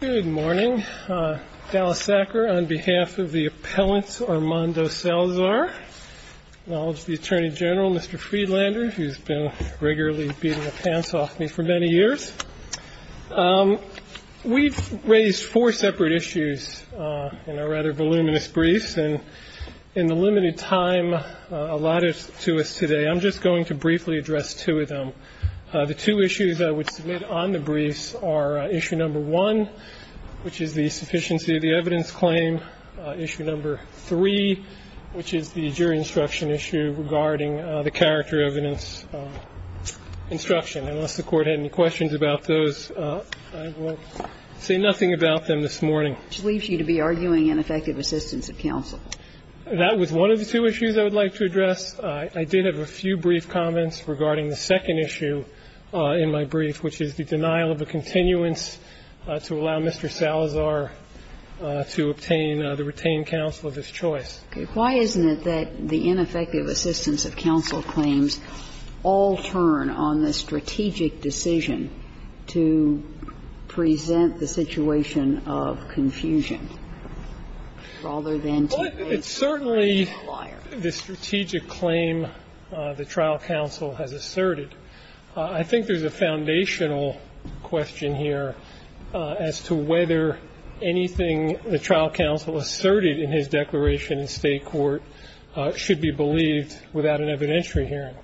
Good morning, Dallas Sackler on behalf of the appellant Armando Salazar, acknowledge the Attorney General, Mr. Friedlander, who's been regularly beating the pants off me for many years. We've raised four separate issues in our rather voluminous briefs, and in the limited time allotted to us today, I'm just going to briefly address two of them. The two issues I would submit on the briefs are issue number one, which is the sufficiency of the evidence claim, issue number three, which is the jury instruction issue regarding the character evidence instruction. Unless the Court had any questions about those, I will say nothing about them this morning. Which leaves you to be arguing ineffective assistance of counsel. That was one of the two issues I would like to address. I did have a few brief comments regarding the second issue in my brief, which is the denial of a continuance to allow Mr. Salazar to obtain the retained counsel of his choice. Okay. Why isn't it that the ineffective assistance of counsel claims all turn on the strategic decision to present the situation of confusion rather than to raise the client? Well, it's certainly the strategic claim the trial counsel has asserted. I think there's a foundational question here as to whether anything the trial counsel asserted in his declaration in State court should be believed without an evidentiary hearing.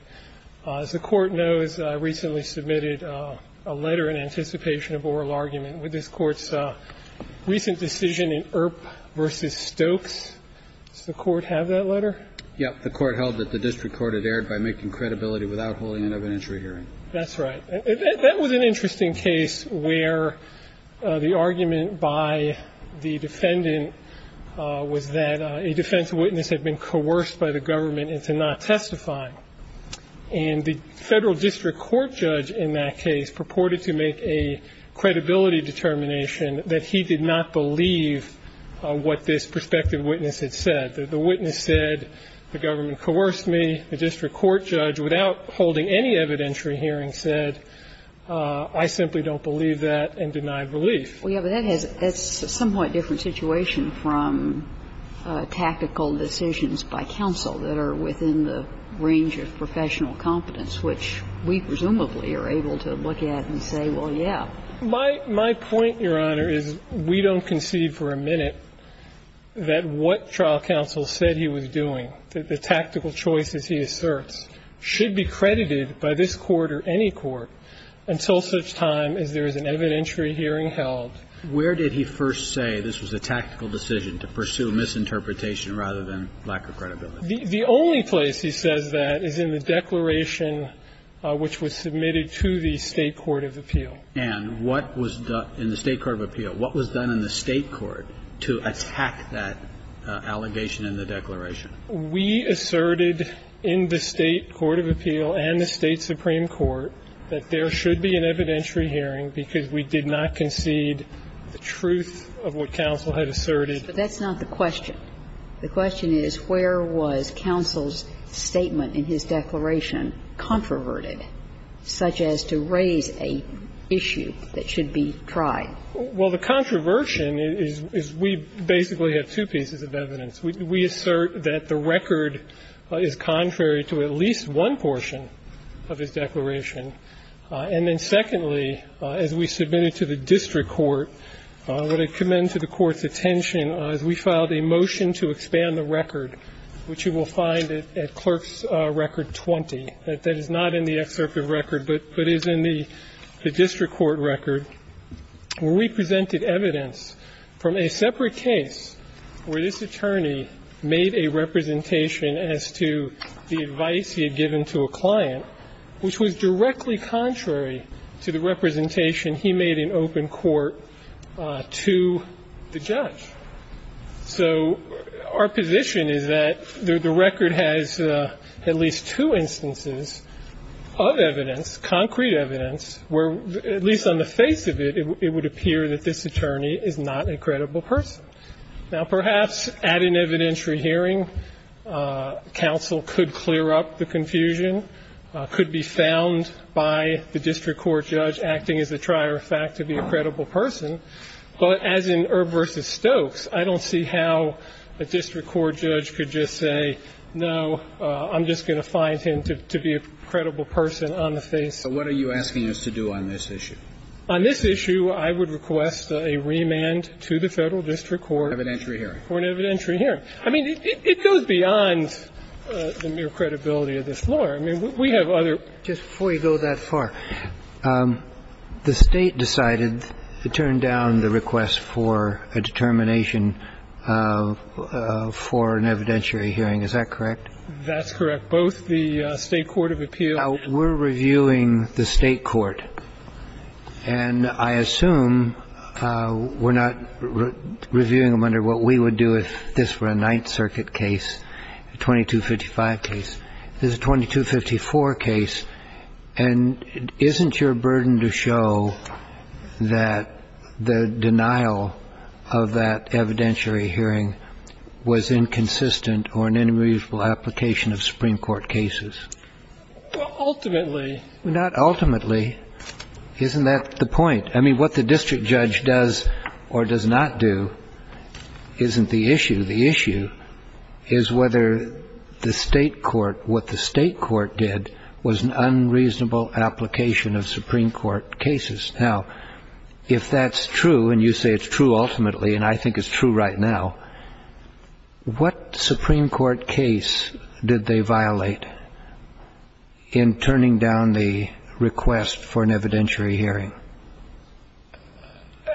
As the Court knows, I recently submitted a letter in anticipation of oral argument with this Court's recent decision in Earp v. Stokes. Does the Court have that letter? Yes. The Court held that the district court had erred by making credibility without holding an evidentiary hearing. That's right. That was an interesting case where the argument by the defendant was that a defense witness had been coerced by the government into not testifying. And the federal district court judge in that case purported to make a credibility determination that he did not believe what this prospective witness had said. The witness said the government coerced me. The district court judge, without holding any evidentiary hearing, said, I simply don't believe that, and denied relief. Well, yes, but that's a somewhat different situation from tactical decisions by counsel that are within the range of professional competence, which we presumably are able to look at and say, well, yeah. My point, Your Honor, is we don't concede for a minute that what trial counsel said he was doing, the tactical choices he asserts, should be credited by this Court or any court until such time as there is an evidentiary hearing held. Where did he first say this was a tactical decision to pursue misinterpretation rather than lack of credibility? The only place he says that is in the declaration which was submitted to the State court of appeal. And what was done in the State court of appeal? What was done in the State court to attack that allegation in the declaration? We asserted in the State court of appeal and the State supreme court that there should be an evidentiary hearing because we did not concede the truth of what counsel had asserted. But that's not the question. The question is where was counsel's statement in his declaration controverted, such as to raise an issue that should be tried? Well, the controversion is we basically have two pieces of evidence. We assert that the record is contrary to at least one portion of his declaration, and then secondly, as we submitted to the district court, I want to commend to the Court's attention, as we filed a motion to expand the record, which you will find at Clerk's Record 20. That is not in the excerpt of record, but is in the district court record, where we presented evidence from a separate case where this attorney made a representation as to the advice he had given to a client, which was directly contrary to the representation he made in open court to the judge. So our position is that the record has at least two instances of evidence, concrete evidence, where at least on the face of it, it would appear that this attorney is not a credible person. Now, perhaps at an evidentiary hearing, counsel could clear up the confusion, could be found by the district court judge acting as a trier of fact to be a credible person, but as in Erb v. Stokes, I don't see how a district court judge could just say, no, I'm just going to find him to be a credible person on the face. So what are you asking us to do on this issue? On this issue, I would request a remand to the Federal District Court for an evidentiary hearing. I mean, it goes beyond the mere credibility of this floor. I mean, we have other. Just before you go that far, the State decided to turn down the request for a determination for an evidentiary hearing. Is that correct? That's correct. Both the State court of appeals. We're reviewing the State court, and I assume we're not reviewing them under what we would do if this were a Ninth Circuit case, a 2255 case. This is a 2254 case. And isn't your burden to show that the denial of that evidentiary hearing was inconsistent or an unreasonable application of Supreme Court cases? Ultimately. Not ultimately. Isn't that the point? I mean, what the district judge does or does not do isn't the issue. The issue is whether the State court, what the State court did was an unreasonable application of Supreme Court cases. Now, if that's true, and you say it's true ultimately, and I think it's true right now, what Supreme Court case did they violate in turning down the request for an evidentiary hearing?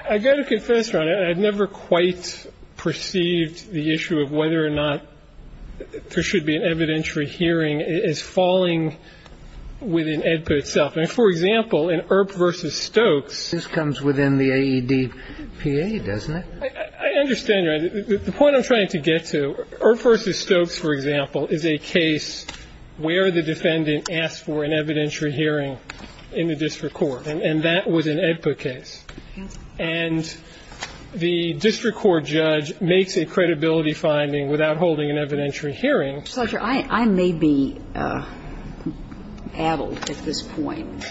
I've got to confess, Your Honor, I've never quite perceived the issue of whether or not there should be an evidentiary hearing as falling within AEDPA itself. I mean, for example, in Earp v. Stokes. This comes within the AEDPA, doesn't it? I understand, Your Honor. The point I'm trying to get to, Earp v. Stokes, for example, is a case where the defendant asked for an evidentiary hearing in the district court. And that was an AEDPA case. And the district court judge makes a credibility finding without holding an evidentiary hearing. Judge, I may be addled at this point,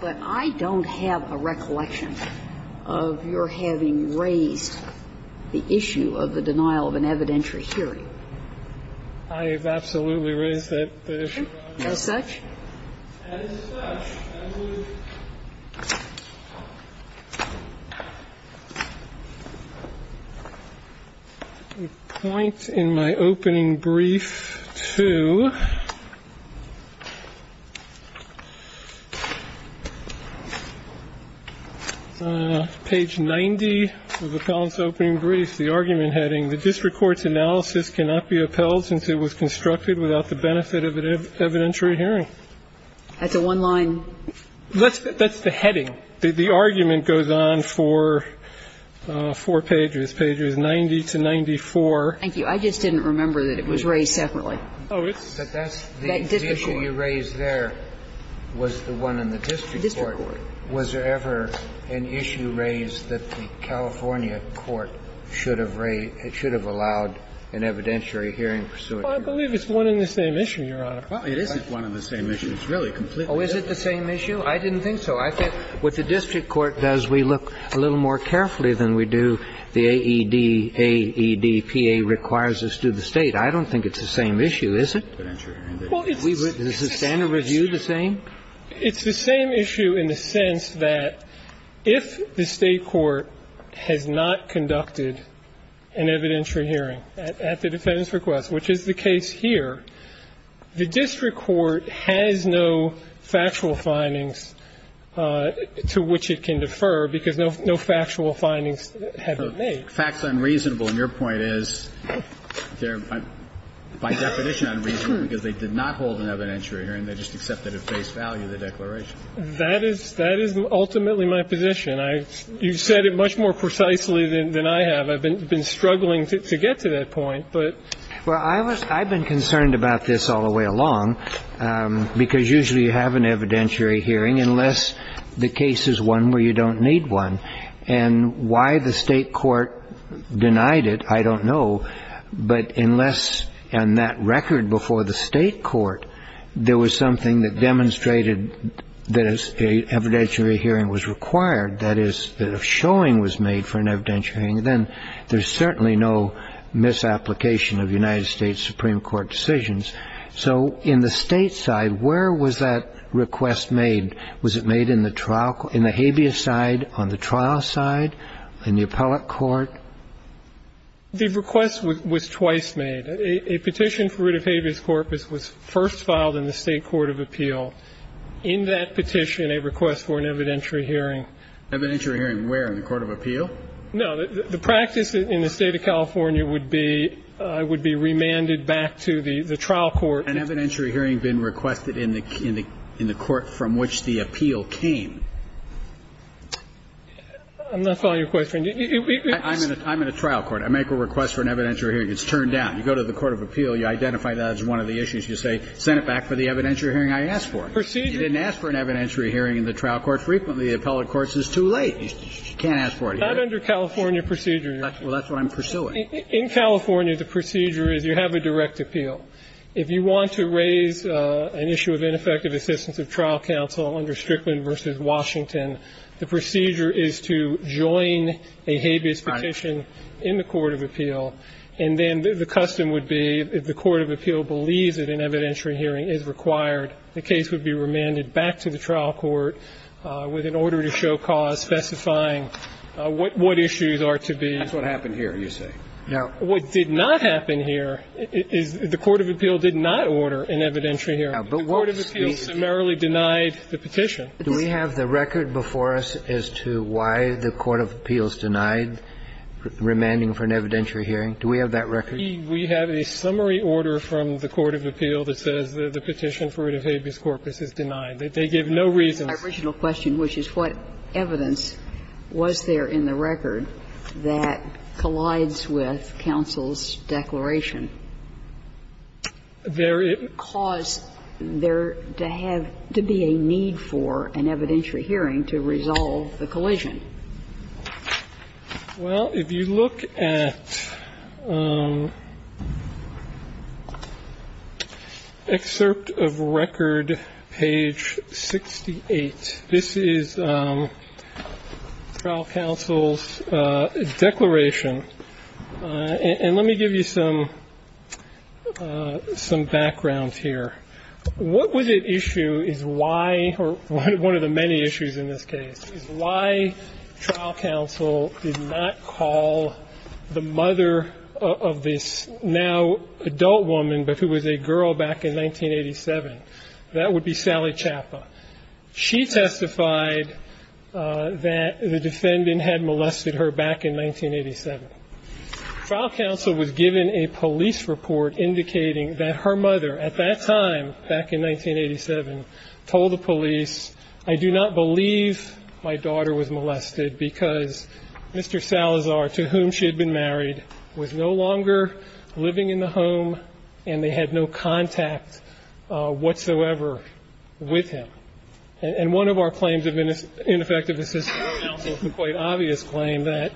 but I don't have a recollection of your having raised the issue of the denial of an evidentiary hearing. I have absolutely raised that issue, Your Honor. As such? As such, I would point in my opening brief to page 90 of the AEDPA. With appellant's opening brief, the argument heading, The district court's analysis cannot be upheld since it was constructed without the benefit of an evidentiary hearing. That's a one-line? That's the heading. The argument goes on for four pages, pages 90 to 94. Thank you. I just didn't remember that it was raised separately. Oh, it's the district court. The issue you raised there was the one in the district court. The district court. Was there ever an issue raised that the California court should have raised or should have allowed an evidentiary hearing? Well, I believe it's one and the same issue, Your Honor. Well, it isn't one and the same issue. It's really completely different. Oh, is it the same issue? I didn't think so. I think what the district court does, we look a little more carefully than we do the AED, AEDPA requires us to the State. I don't think it's the same issue, is it? Well, it's the same. Is the standard review the same? It's the same issue in the sense that if the State court has not conducted an evidentiary hearing at the defendant's request, which is the case here, the district court has no factual findings to which it can defer because no factual findings have been made. Fact's unreasonable, and your point is by definition unreasonable because they did not hold an evidentiary hearing. They just accepted at face value the declaration. That is ultimately my position. You've said it much more precisely than I have. I've been struggling to get to that point. Well, I've been concerned about this all the way along because usually you have an evidentiary hearing unless the case is one where you don't need one. And why the State court denied it, I don't know. But unless on that record before the State court there was something that demonstrated that an evidentiary hearing was required, that is, that a showing was made for an evidentiary hearing, then there's certainly no misapplication of United States Supreme Court decisions. So in the State side, where was that request made? Was it made in the trial court, in the habeas side, on the trial side, in the appellate side? The request was twice made. A petition for writ of habeas corpus was first filed in the State court of appeal. In that petition, a request for an evidentiary hearing. Evidentiary hearing where? In the court of appeal? No. The practice in the State of California would be remanded back to the trial court. An evidentiary hearing had been requested in the court from which the appeal came. I'm not following your question. I'm in a trial court. I make a request for an evidentiary hearing. It's turned down. You go to the court of appeal. You identify that as one of the issues. You say send it back for the evidentiary hearing I asked for. Procedure. You didn't ask for an evidentiary hearing in the trial court frequently. The appellate court says too late. You can't ask for it. It's not under California procedure. Well, that's what I'm pursuing. In California, the procedure is you have a direct appeal. If you want to raise an issue of ineffective assistance of trial counsel under Strickland versus Washington, the procedure is to join a habeas petition in the court of appeal and then the custom would be if the court of appeal believes that an evidentiary hearing is required, the case would be remanded back to the trial court with an order to show cause specifying what issues are to be. That's what happened here, you say. No. What did not happen here is the court of appeal did not order an evidentiary hearing. The court of appeal summarily denied the petition. Do we have the record before us as to why the court of appeal is denied remanding for an evidentiary hearing? Do we have that record? We have a summary order from the court of appeal that says the petition for an habeas corpus is denied. They gave no reason. My original question, which is what evidence was there in the record that collides with counsel's declaration? There caused there to have to be a need for an evidentiary hearing to resolve the collision. Well, if you look at excerpt of record, page 68, this is trial counsel's declaration. And let me give you some background here. What was at issue is why, or one of the many issues in this case, is why trial counsel did not call the mother of this now adult woman, but who was a girl back in 1987, that would be Sally Chapa. She testified that the defendant had molested her back in 1987. Trial counsel was given a police report indicating that her mother, at that time, back in 1987, told the police, I do not believe my daughter was molested because Mr. Salazar, to whom she had been married, was no longer living in the home and they had no contact whatsoever with him. And one of our claims of ineffective assistance from counsel is a quite obvious claim that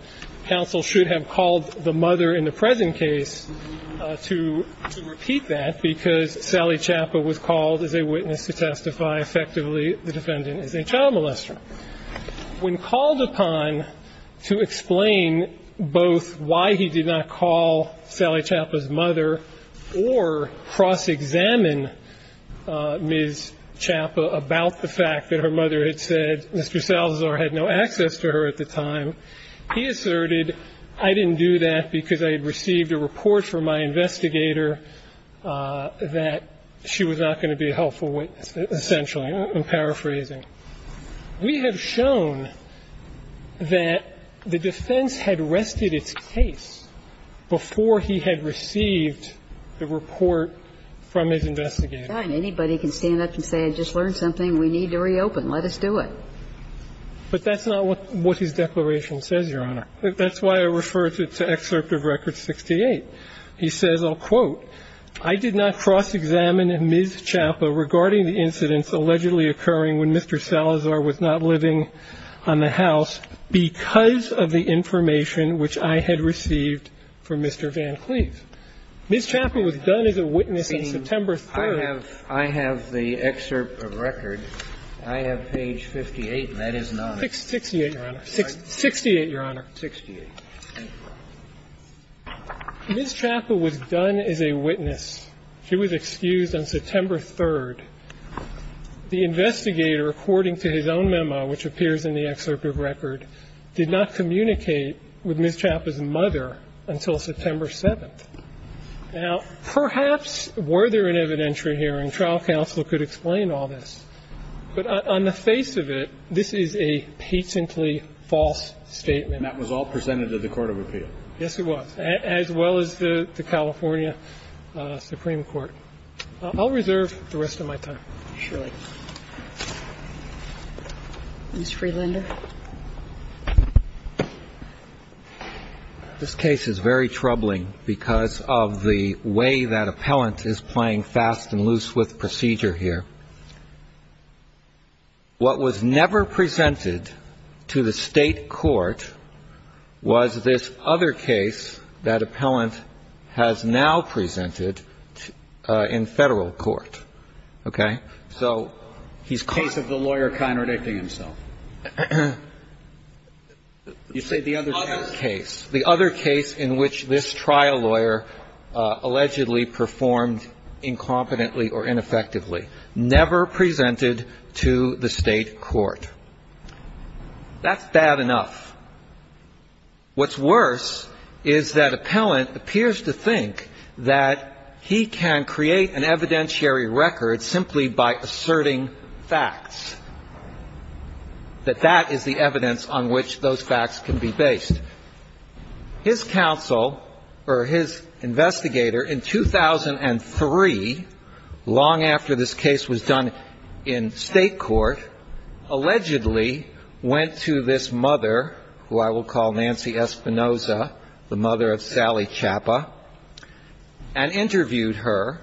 counsel should have called the mother in the present case to repeat that because Sally Chapa was called as a witness to testify effectively the defendant is a child molester. When called upon to explain both why he did not call Sally Chapa's mother or cross-examine Ms. Chapa about the fact that her mother had said Mr. Salazar had no access to her at the time, he asserted, I didn't do that because I had received a report from my investigator that she was not going to be a helpful witness, essentially. I'm paraphrasing. We have shown that the defense had rested its case before he had received the report from his investigator. And anybody can stand up and say, I just learned something. We need to reopen. Let us do it. But that's not what his declaration says, Your Honor. That's why I refer to excerpt of record 68. He says, I'll quote, I did not cross-examine Ms. Chapa regarding the incidents allegedly occurring when Mr. Salazar was not living on the house because of the information which I had received from Mr. Van Cleve. Ms. Chapa was done as a witness on September 3rd. The investigator, according to his own memo, which appears in the excerpt of record, did not communicate with Ms. Chapa's mother until September 7th. Now, perhaps were there an evidentiary reason for Ms. Chapa's refusal to testify I don't know. I don't know. I don't know. You have to know the fact that it was an evidentiary hearing. The trial counsel could explain all of this. On the face of it, this is a patiently false statement. And that was all presented to the court of appeal? Yes, it was. As well as the California Supreme Court. I'll reserve the rest of my time. Ms. Freelander. This case is very troubling because of the way that appellant is playing fast and loose with procedure here. What was never presented to the State court was this other case that appellant has now presented in Federal court. Okay? So he's caught. Case of the lawyer contradicting himself. You say the other case. The other case in which this trial lawyer allegedly performed incompetently or ineffectively. Never presented to the State court. That's bad enough. What's worse is that appellant appears to think that he can create an evidentiary record simply by asserting facts. That that is the evidence on which those facts can be based. His counsel or his investigator in 2003, long after this case was done in State court, allegedly went to this mother, who I will call Nancy Espinoza, the mother of Sally Chapa, and interviewed her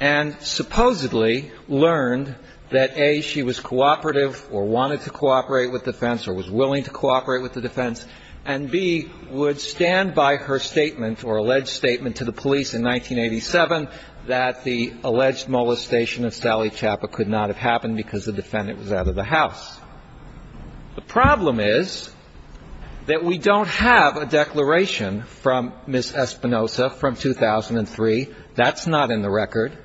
and supposedly learned that, A, she was cooperative or wanted to cooperate with defense or was willing to cooperate with the defense, and, B, would stand by her statement or alleged statement to the police in 1987 that the alleged molestation of Sally Chapa could not have happened because the defendant was out of the house. The problem is that we don't have a declaration from Ms. Espinoza from 2003. That's not in the record.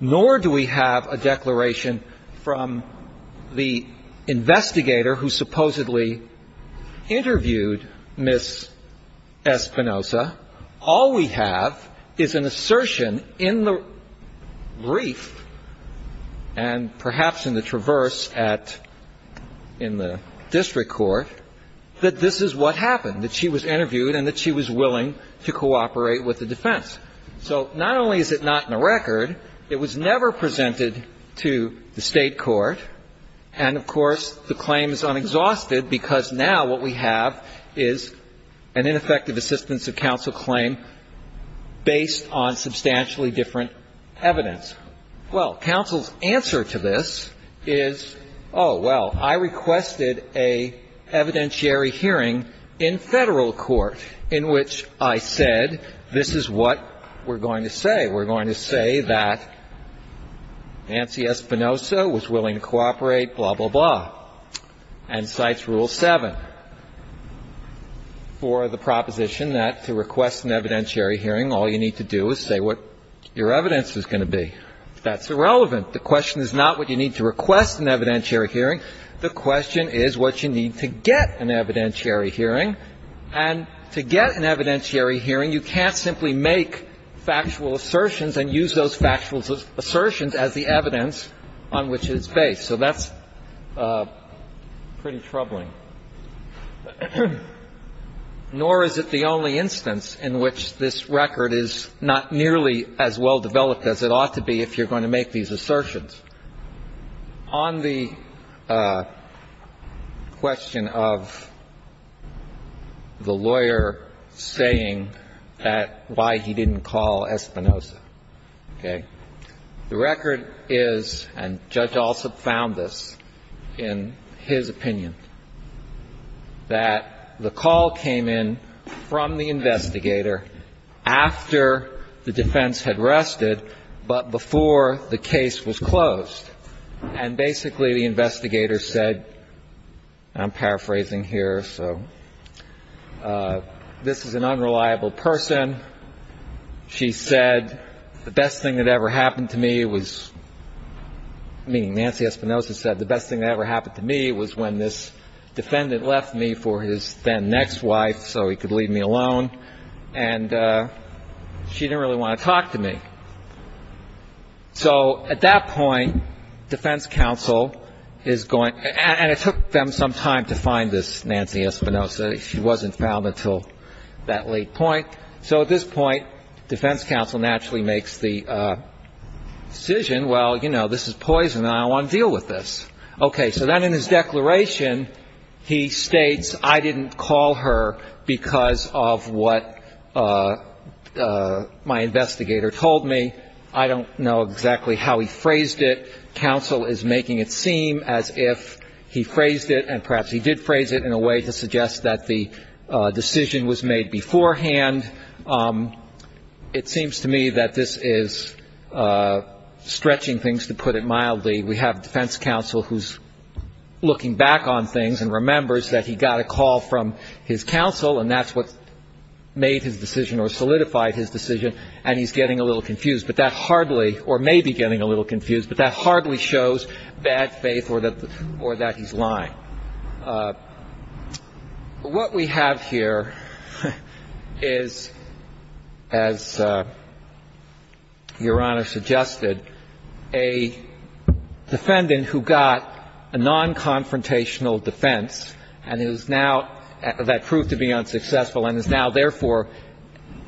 Nor do we have a declaration from the investigator who supposedly interviewed Ms. Espinoza. All we have is an assertion in the brief and perhaps in the traverse at the district court that this is what happened, that she was interviewed and that she was willing to cooperate with the defense. So not only is it not in the record, it was never presented to the State court, and, of course, the claim is unexhausted because now what we have is an ineffective assistance of counsel claim based on substantially different evidence. Well, counsel's answer to this is, oh, well, I requested an evidentiary hearing in Federal court in which I said this is what we're going to say. We're going to say that Nancy Espinoza was willing to cooperate, blah, blah, blah, and cites Rule 7 for the proposition that to request an evidentiary hearing, all you need to do is say what your evidence is going to be. That's irrelevant. The question is not what you need to request an evidentiary hearing. The question is what you need to get an evidentiary hearing. And to get an evidentiary hearing, you can't simply make factual assertions and use those factual assertions as the evidence on which it's based. So that's pretty troubling. Nor is it the only instance in which this record is not nearly as well-developed as it ought to be if you're going to make these assertions. On the question of the lawyer saying that why he didn't call Espinoza, okay, the record is, and Judge Alsop found this in his opinion, that the call came in from the investigator after the defense had rested, but before the case was closed. And basically, the investigator said, and I'm paraphrasing here, so this is an unreliable person. She said, the best thing that ever happened to me was, meaning Nancy Espinoza said, the best thing that ever happened to me was when this defendant left me for his then next wife so he could leave me alone. And she didn't really want to talk to me. So at that point, defense counsel is going, and it took them some time to find this Nancy Espinoza. She wasn't found until that late point. So at this point, defense counsel naturally makes the decision, well, you know, this is poison and I want to deal with this. Okay. So then in his declaration, he states, I didn't call her because of what my investigator told me. I don't know exactly how he phrased it. Counsel is making it seem as if he phrased it and perhaps he did phrase it in a way to suggest that the decision was made beforehand. It seems to me that this is stretching things, to put it mildly. We have defense counsel who's looking back on things and remembers that he got a call from his counsel and that's what made his decision or solidified his decision, and he's getting a little confused. But that hardly, or may be getting a little confused, but that hardly shows bad faith or that he's lying. Now, what we have here is, as Your Honor suggested, a defendant who got a non-confrontational defense and is now that proved to be unsuccessful and is now therefore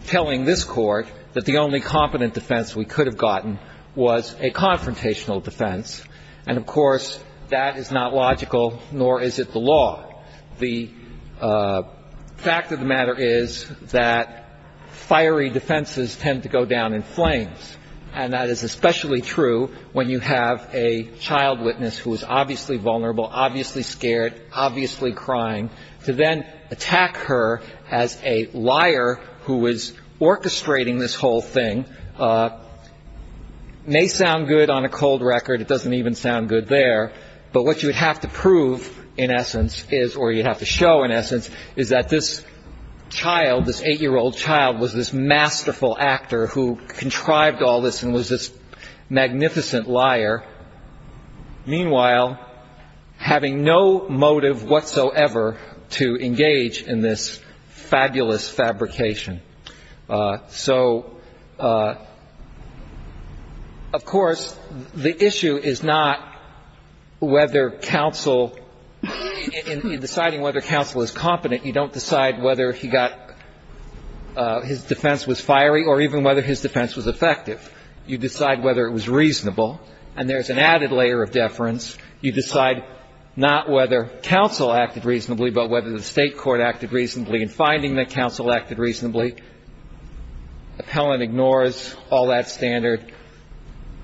telling this Court that the only competent defense we could have gotten was a confrontational defense. And of course, that is not logical, nor is it the law. The fact of the matter is that fiery defenses tend to go down in flames. And that is especially true when you have a child witness who is obviously vulnerable, obviously scared, obviously crying, to then attack her as a liar who is orchestrating this whole thing. And it may sound good on a cold record. It doesn't even sound good there. But what you would have to prove in essence is, or you'd have to show in essence, is that this child, this 8-year-old child, was this masterful actor who contrived all this and was this magnificent liar, meanwhile having no motive whatsoever to engage in this fabulous fabrication. So of course, the issue is not whether counsel, in deciding whether counsel is competent, you don't decide whether he got his defense was fiery or even whether his defense was effective. You decide whether it was reasonable. And there is an added layer of deference. You decide not whether counsel acted reasonably, but whether the State court acted reasonably. Appellant ignores all that standard,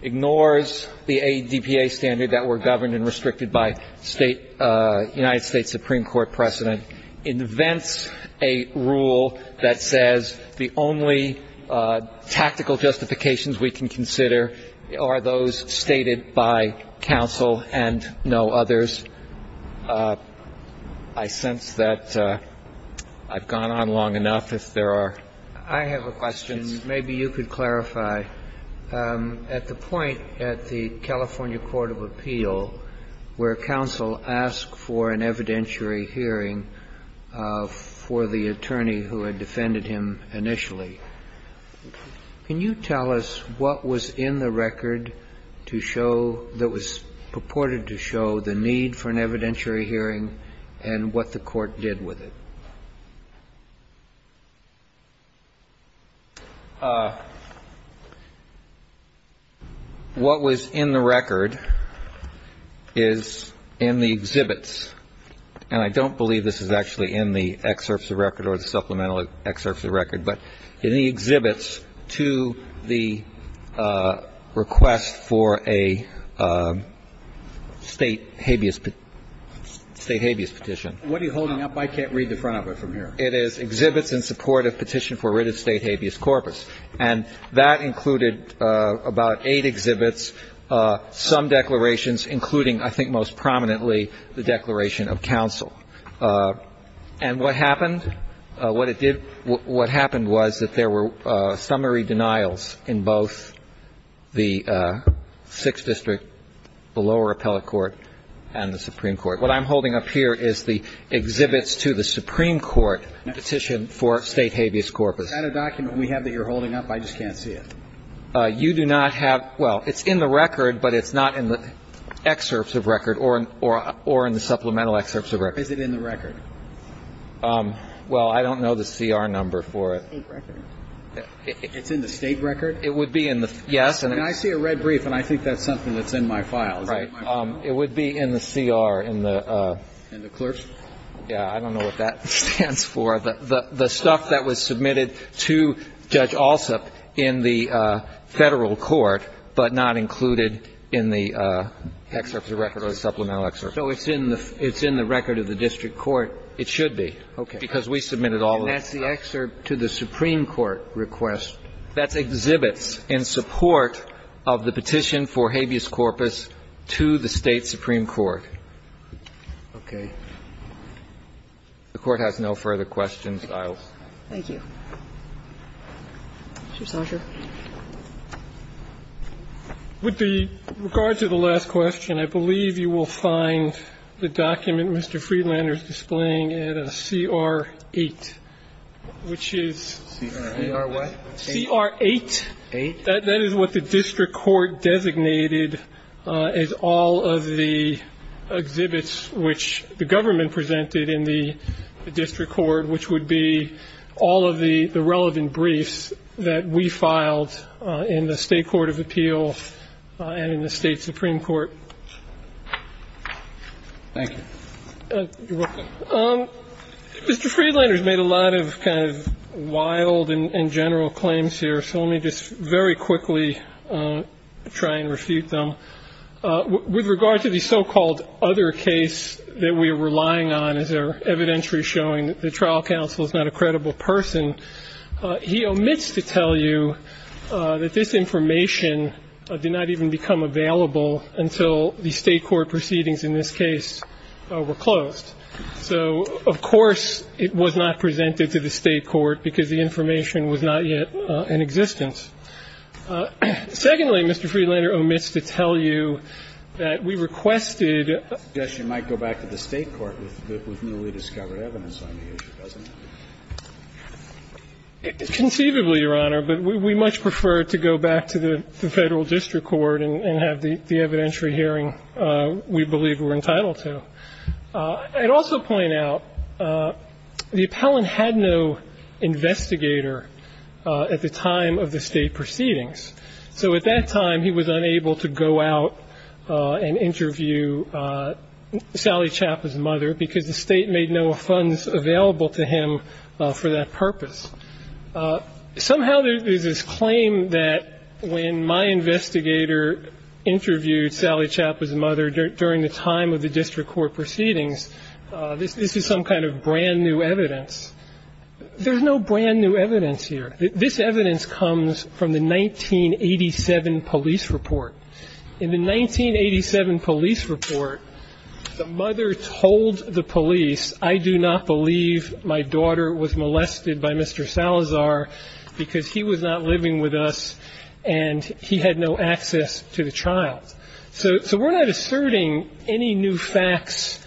ignores the ADPA standard that were governed and restricted by United States Supreme Court precedent, invents a rule that says the only tactical justifications we can consider are those stated by counsel and no others. I sense that I've gone on long enough. If there are questions. I have a question. Maybe you could clarify. At the point at the California Court of Appeal where counsel asked for an evidentiary hearing for the attorney who had defended him initially, can you tell us what was in the record that was purported to show the need for an evidentiary hearing and what the Court did with it? What was in the record is in the exhibits. And I don't believe this is actually in the excerpts of record or the supplemental excerpts of record, but in the exhibits to the request for a State habeas Petition. What are you holding up? I can't read the front of it from here. It is exhibits in support of petition for writ of State habeas corpus. And that included about eight exhibits, some declarations, including, I think most prominently, the declaration of counsel. And what happened? What it did, what happened was that there were summary denials in both the Sixth District, the lower appellate court, and the Supreme Court. What I'm holding up here is the exhibits to the Supreme Court petition for State habeas corpus. Is that a document we have that you're holding up? I just can't see it. You do not have, well, it's in the record, but it's not in the excerpts of record or in the supplemental excerpts of record. Is it in the record? Well, I don't know the CR number for it. State record? It's in the State record? It would be in the, yes. I mean, I see a red brief, and I think that's something that's in my file. Right. Is that in my file? It would be in the CR, in the... In the clerk's? Yeah. I don't know what that stands for. The stuff that was submitted to Judge Alsup in the Federal court, but not included in the excerpts of record or the supplemental excerpts of record. So it's in the record of the district court? It should be. Okay. Because we submitted all of those. And that's the excerpt to the Supreme Court request? That's exhibits in support of the petition for habeas corpus to the State Supreme Court. Okay. The Court has no further questions. I'll. Thank you. Mr. Sauger. With regard to the last question, I believe you will find the document Mr. Freelander is displaying in a CR-8, which is... CR-what? CR-8. Eight. That is what the district court designated as all of the exhibits which the government presented in the district court, which would be all of the relevant briefs that we filed in the State Court of Appeals and in the State Supreme Court. Thank you. You're welcome. Mr. Freelander has made a lot of kind of wild and general claims here, so let me just very quickly try and refute them. With regard to the so-called other case that we are relying on as our evidentiary showing that the trial counsel is not a credible person, he omits to tell you that this information did not even become available until the State court proceedings in this case were closed. So, of course, it was not presented to the State court because the information was not yet in existence. Secondly, Mr. Freelander omits to tell you that we requested... Conceivably, Your Honor, but we much prefer to go back to the Federal district court and have the evidentiary hearing we believe we're entitled to. I'd also point out the appellant had no investigator at the time of the State proceedings, so at that time he was unable to go out and interview Sally Chapa's mother, who was available to him for that purpose. Somehow there's this claim that when my investigator interviewed Sally Chapa's mother during the time of the district court proceedings, this is some kind of brand new evidence. There's no brand new evidence here. This evidence comes from the 1987 police report. In the 1987 police report, the mother told the police, I do not believe my daughter was molested by Mr. Salazar because he was not living with us and he had no access to the child. So we're not asserting any new facts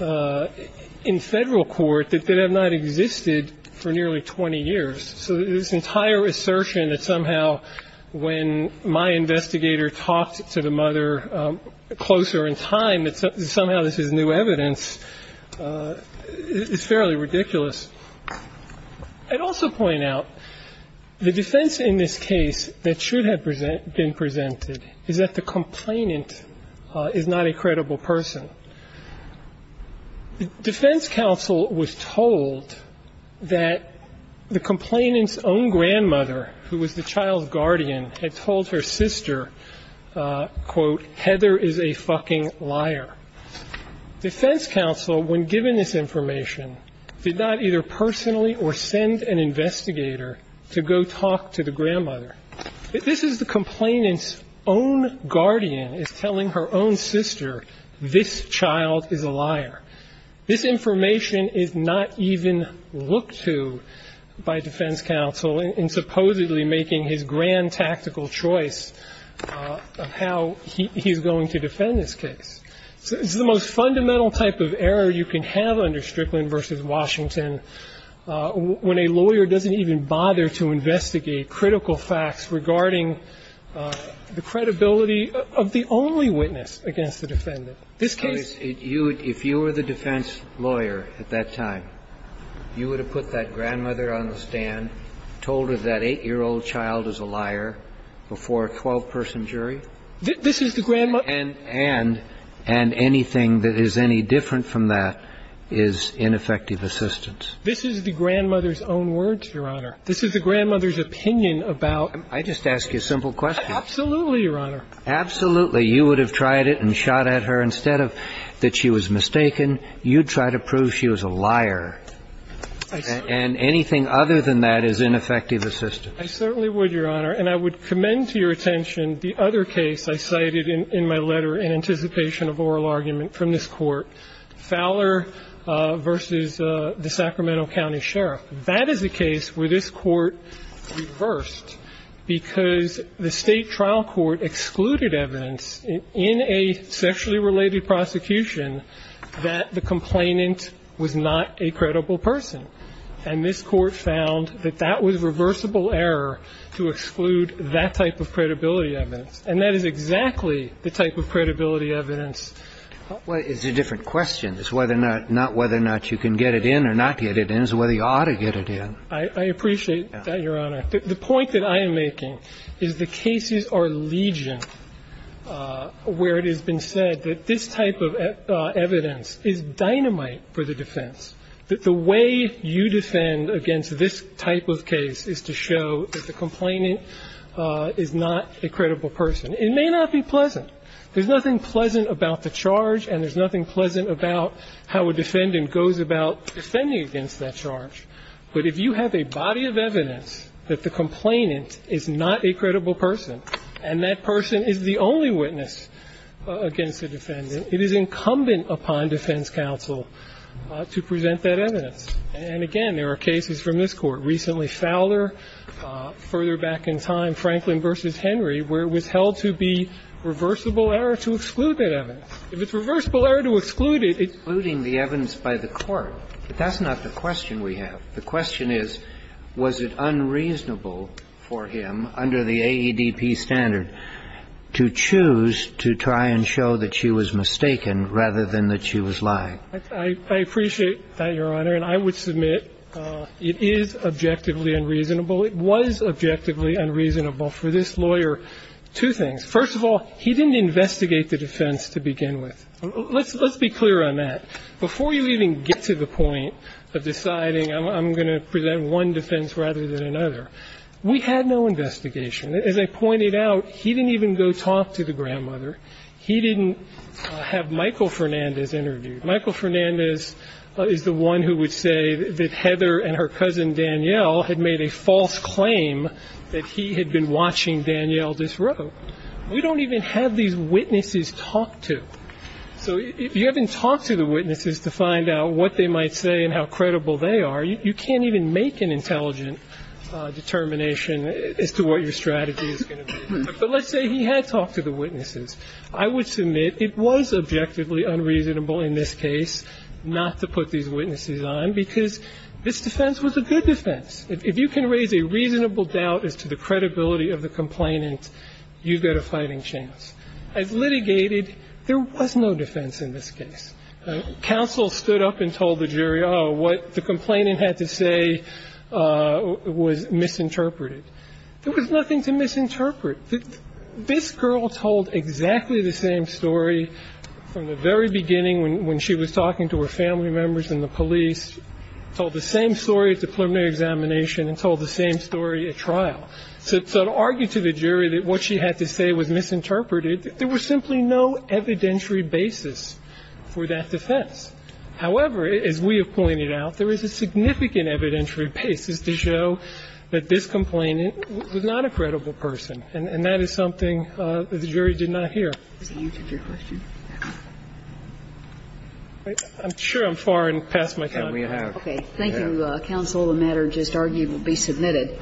in Federal court that have not existed for nearly 20 years. So this entire assertion that somehow when my investigator talked to Mr. Salazar and talked to the mother closer in time that somehow this is new evidence is fairly ridiculous. I'd also point out the defense in this case that should have been presented is that the complainant is not a credible person. Defense counsel was told that the complainant's own grandmother, who was the child's guardian, had told her sister, quote, Heather is a fucking liar. Defense counsel, when given this information, did not either personally or send an investigator to go talk to the grandmother. This is the complainant's own guardian is telling her own sister this child is a liar. This information is not even looked to by defense counsel in supposedly making his grand tactical choice of how he's going to defend this case. This is the most fundamental type of error you can have under Strickland v. Washington when a lawyer doesn't even bother to investigate critical facts regarding the credibility of the only witness against the defendant. This case you would, if you were the defense lawyer at that time, you would have put that grandmother on the stand, told her that 8-year-old child is a liar, before a 12-person jury. And anything that is any different from that is ineffective assistance. This is the grandmother's own words, Your Honor. This is the grandmother's opinion about ---- I just asked you a simple question. Absolutely, Your Honor. Absolutely. You would have tried it and shot at her. Instead of that she was mistaken, you'd try to prove she was a liar. And anything other than that is ineffective assistance. I certainly would, Your Honor. And I would commend to your attention the other case I cited in my letter in anticipation of oral argument from this Court, Fowler v. the Sacramento County Sheriff. That is a case where this Court reversed because the State trial court excluded evidence in a sexually related prosecution that the complainant was not a credible person. And this Court found that that was reversible error to exclude that type of credibility evidence. And that is exactly the type of credibility evidence ---- Well, it's a different question. It's whether or not you can get it in or not get it in. It's whether you ought to get it in. I appreciate that, Your Honor. The point that I am making is the cases are legion where it has been said that this type of evidence is dynamite for the defense, that the way you defend against this type of case is to show that the complainant is not a credible person. It may not be pleasant. There's nothing pleasant about the charge and there's nothing pleasant about how a defendant goes about defending against that charge. But if you have a body of evidence that the complainant is not a credible person and that person is the only witness against the defendant, it is incumbent upon defense counsel to present that evidence. And again, there are cases from this Court, recently Fowler, further back in time, Franklin v. Henry, where it was held to be reversible error to exclude that evidence. If it's reversible error to exclude it, it's ---- The question is, was it unreasonable for him, under the AEDP standard, to choose to try and show that she was mistaken rather than that she was lying? I appreciate that, Your Honor. And I would submit it is objectively unreasonable. It was objectively unreasonable for this lawyer two things. First of all, he didn't investigate the defense to begin with. Let's be clear on that. Before you even get to the point of deciding I'm going to present one defense rather than another, we had no investigation. As I pointed out, he didn't even go talk to the grandmother. He didn't have Michael Fernandez interviewed. Michael Fernandez is the one who would say that Heather and her cousin Danielle had made a false claim that he had been watching Danielle disrobe. We don't even have these witnesses talk to. So if you haven't talked to the witnesses to find out what they might say and how credible they are, you can't even make an intelligent determination as to what your strategy is going to be. But let's say he had talked to the witnesses. I would submit it was objectively unreasonable in this case not to put these witnesses on, because this defense was a good defense. If you can raise a reasonable doubt as to the credibility of the complainant, you've got a fighting chance. As litigated, there was no defense in this case. Counsel stood up and told the jury, oh, what the complainant had to say was misinterpreted. There was nothing to misinterpret. This girl told exactly the same story from the very beginning when she was talking to her family members and the police, told the same story at the preliminary examination and told the same story at trial. So to argue to the jury that what she had to say was misinterpreted, there was simply no evidentiary basis for that defense. However, as we have pointed out, there is a significant evidentiary basis to show that this complainant was not a credible person, and that is something that the jury did not hear. I'm sure I'm far past my time. Okay. Thank you, counsel. The matter just argued will be submitted.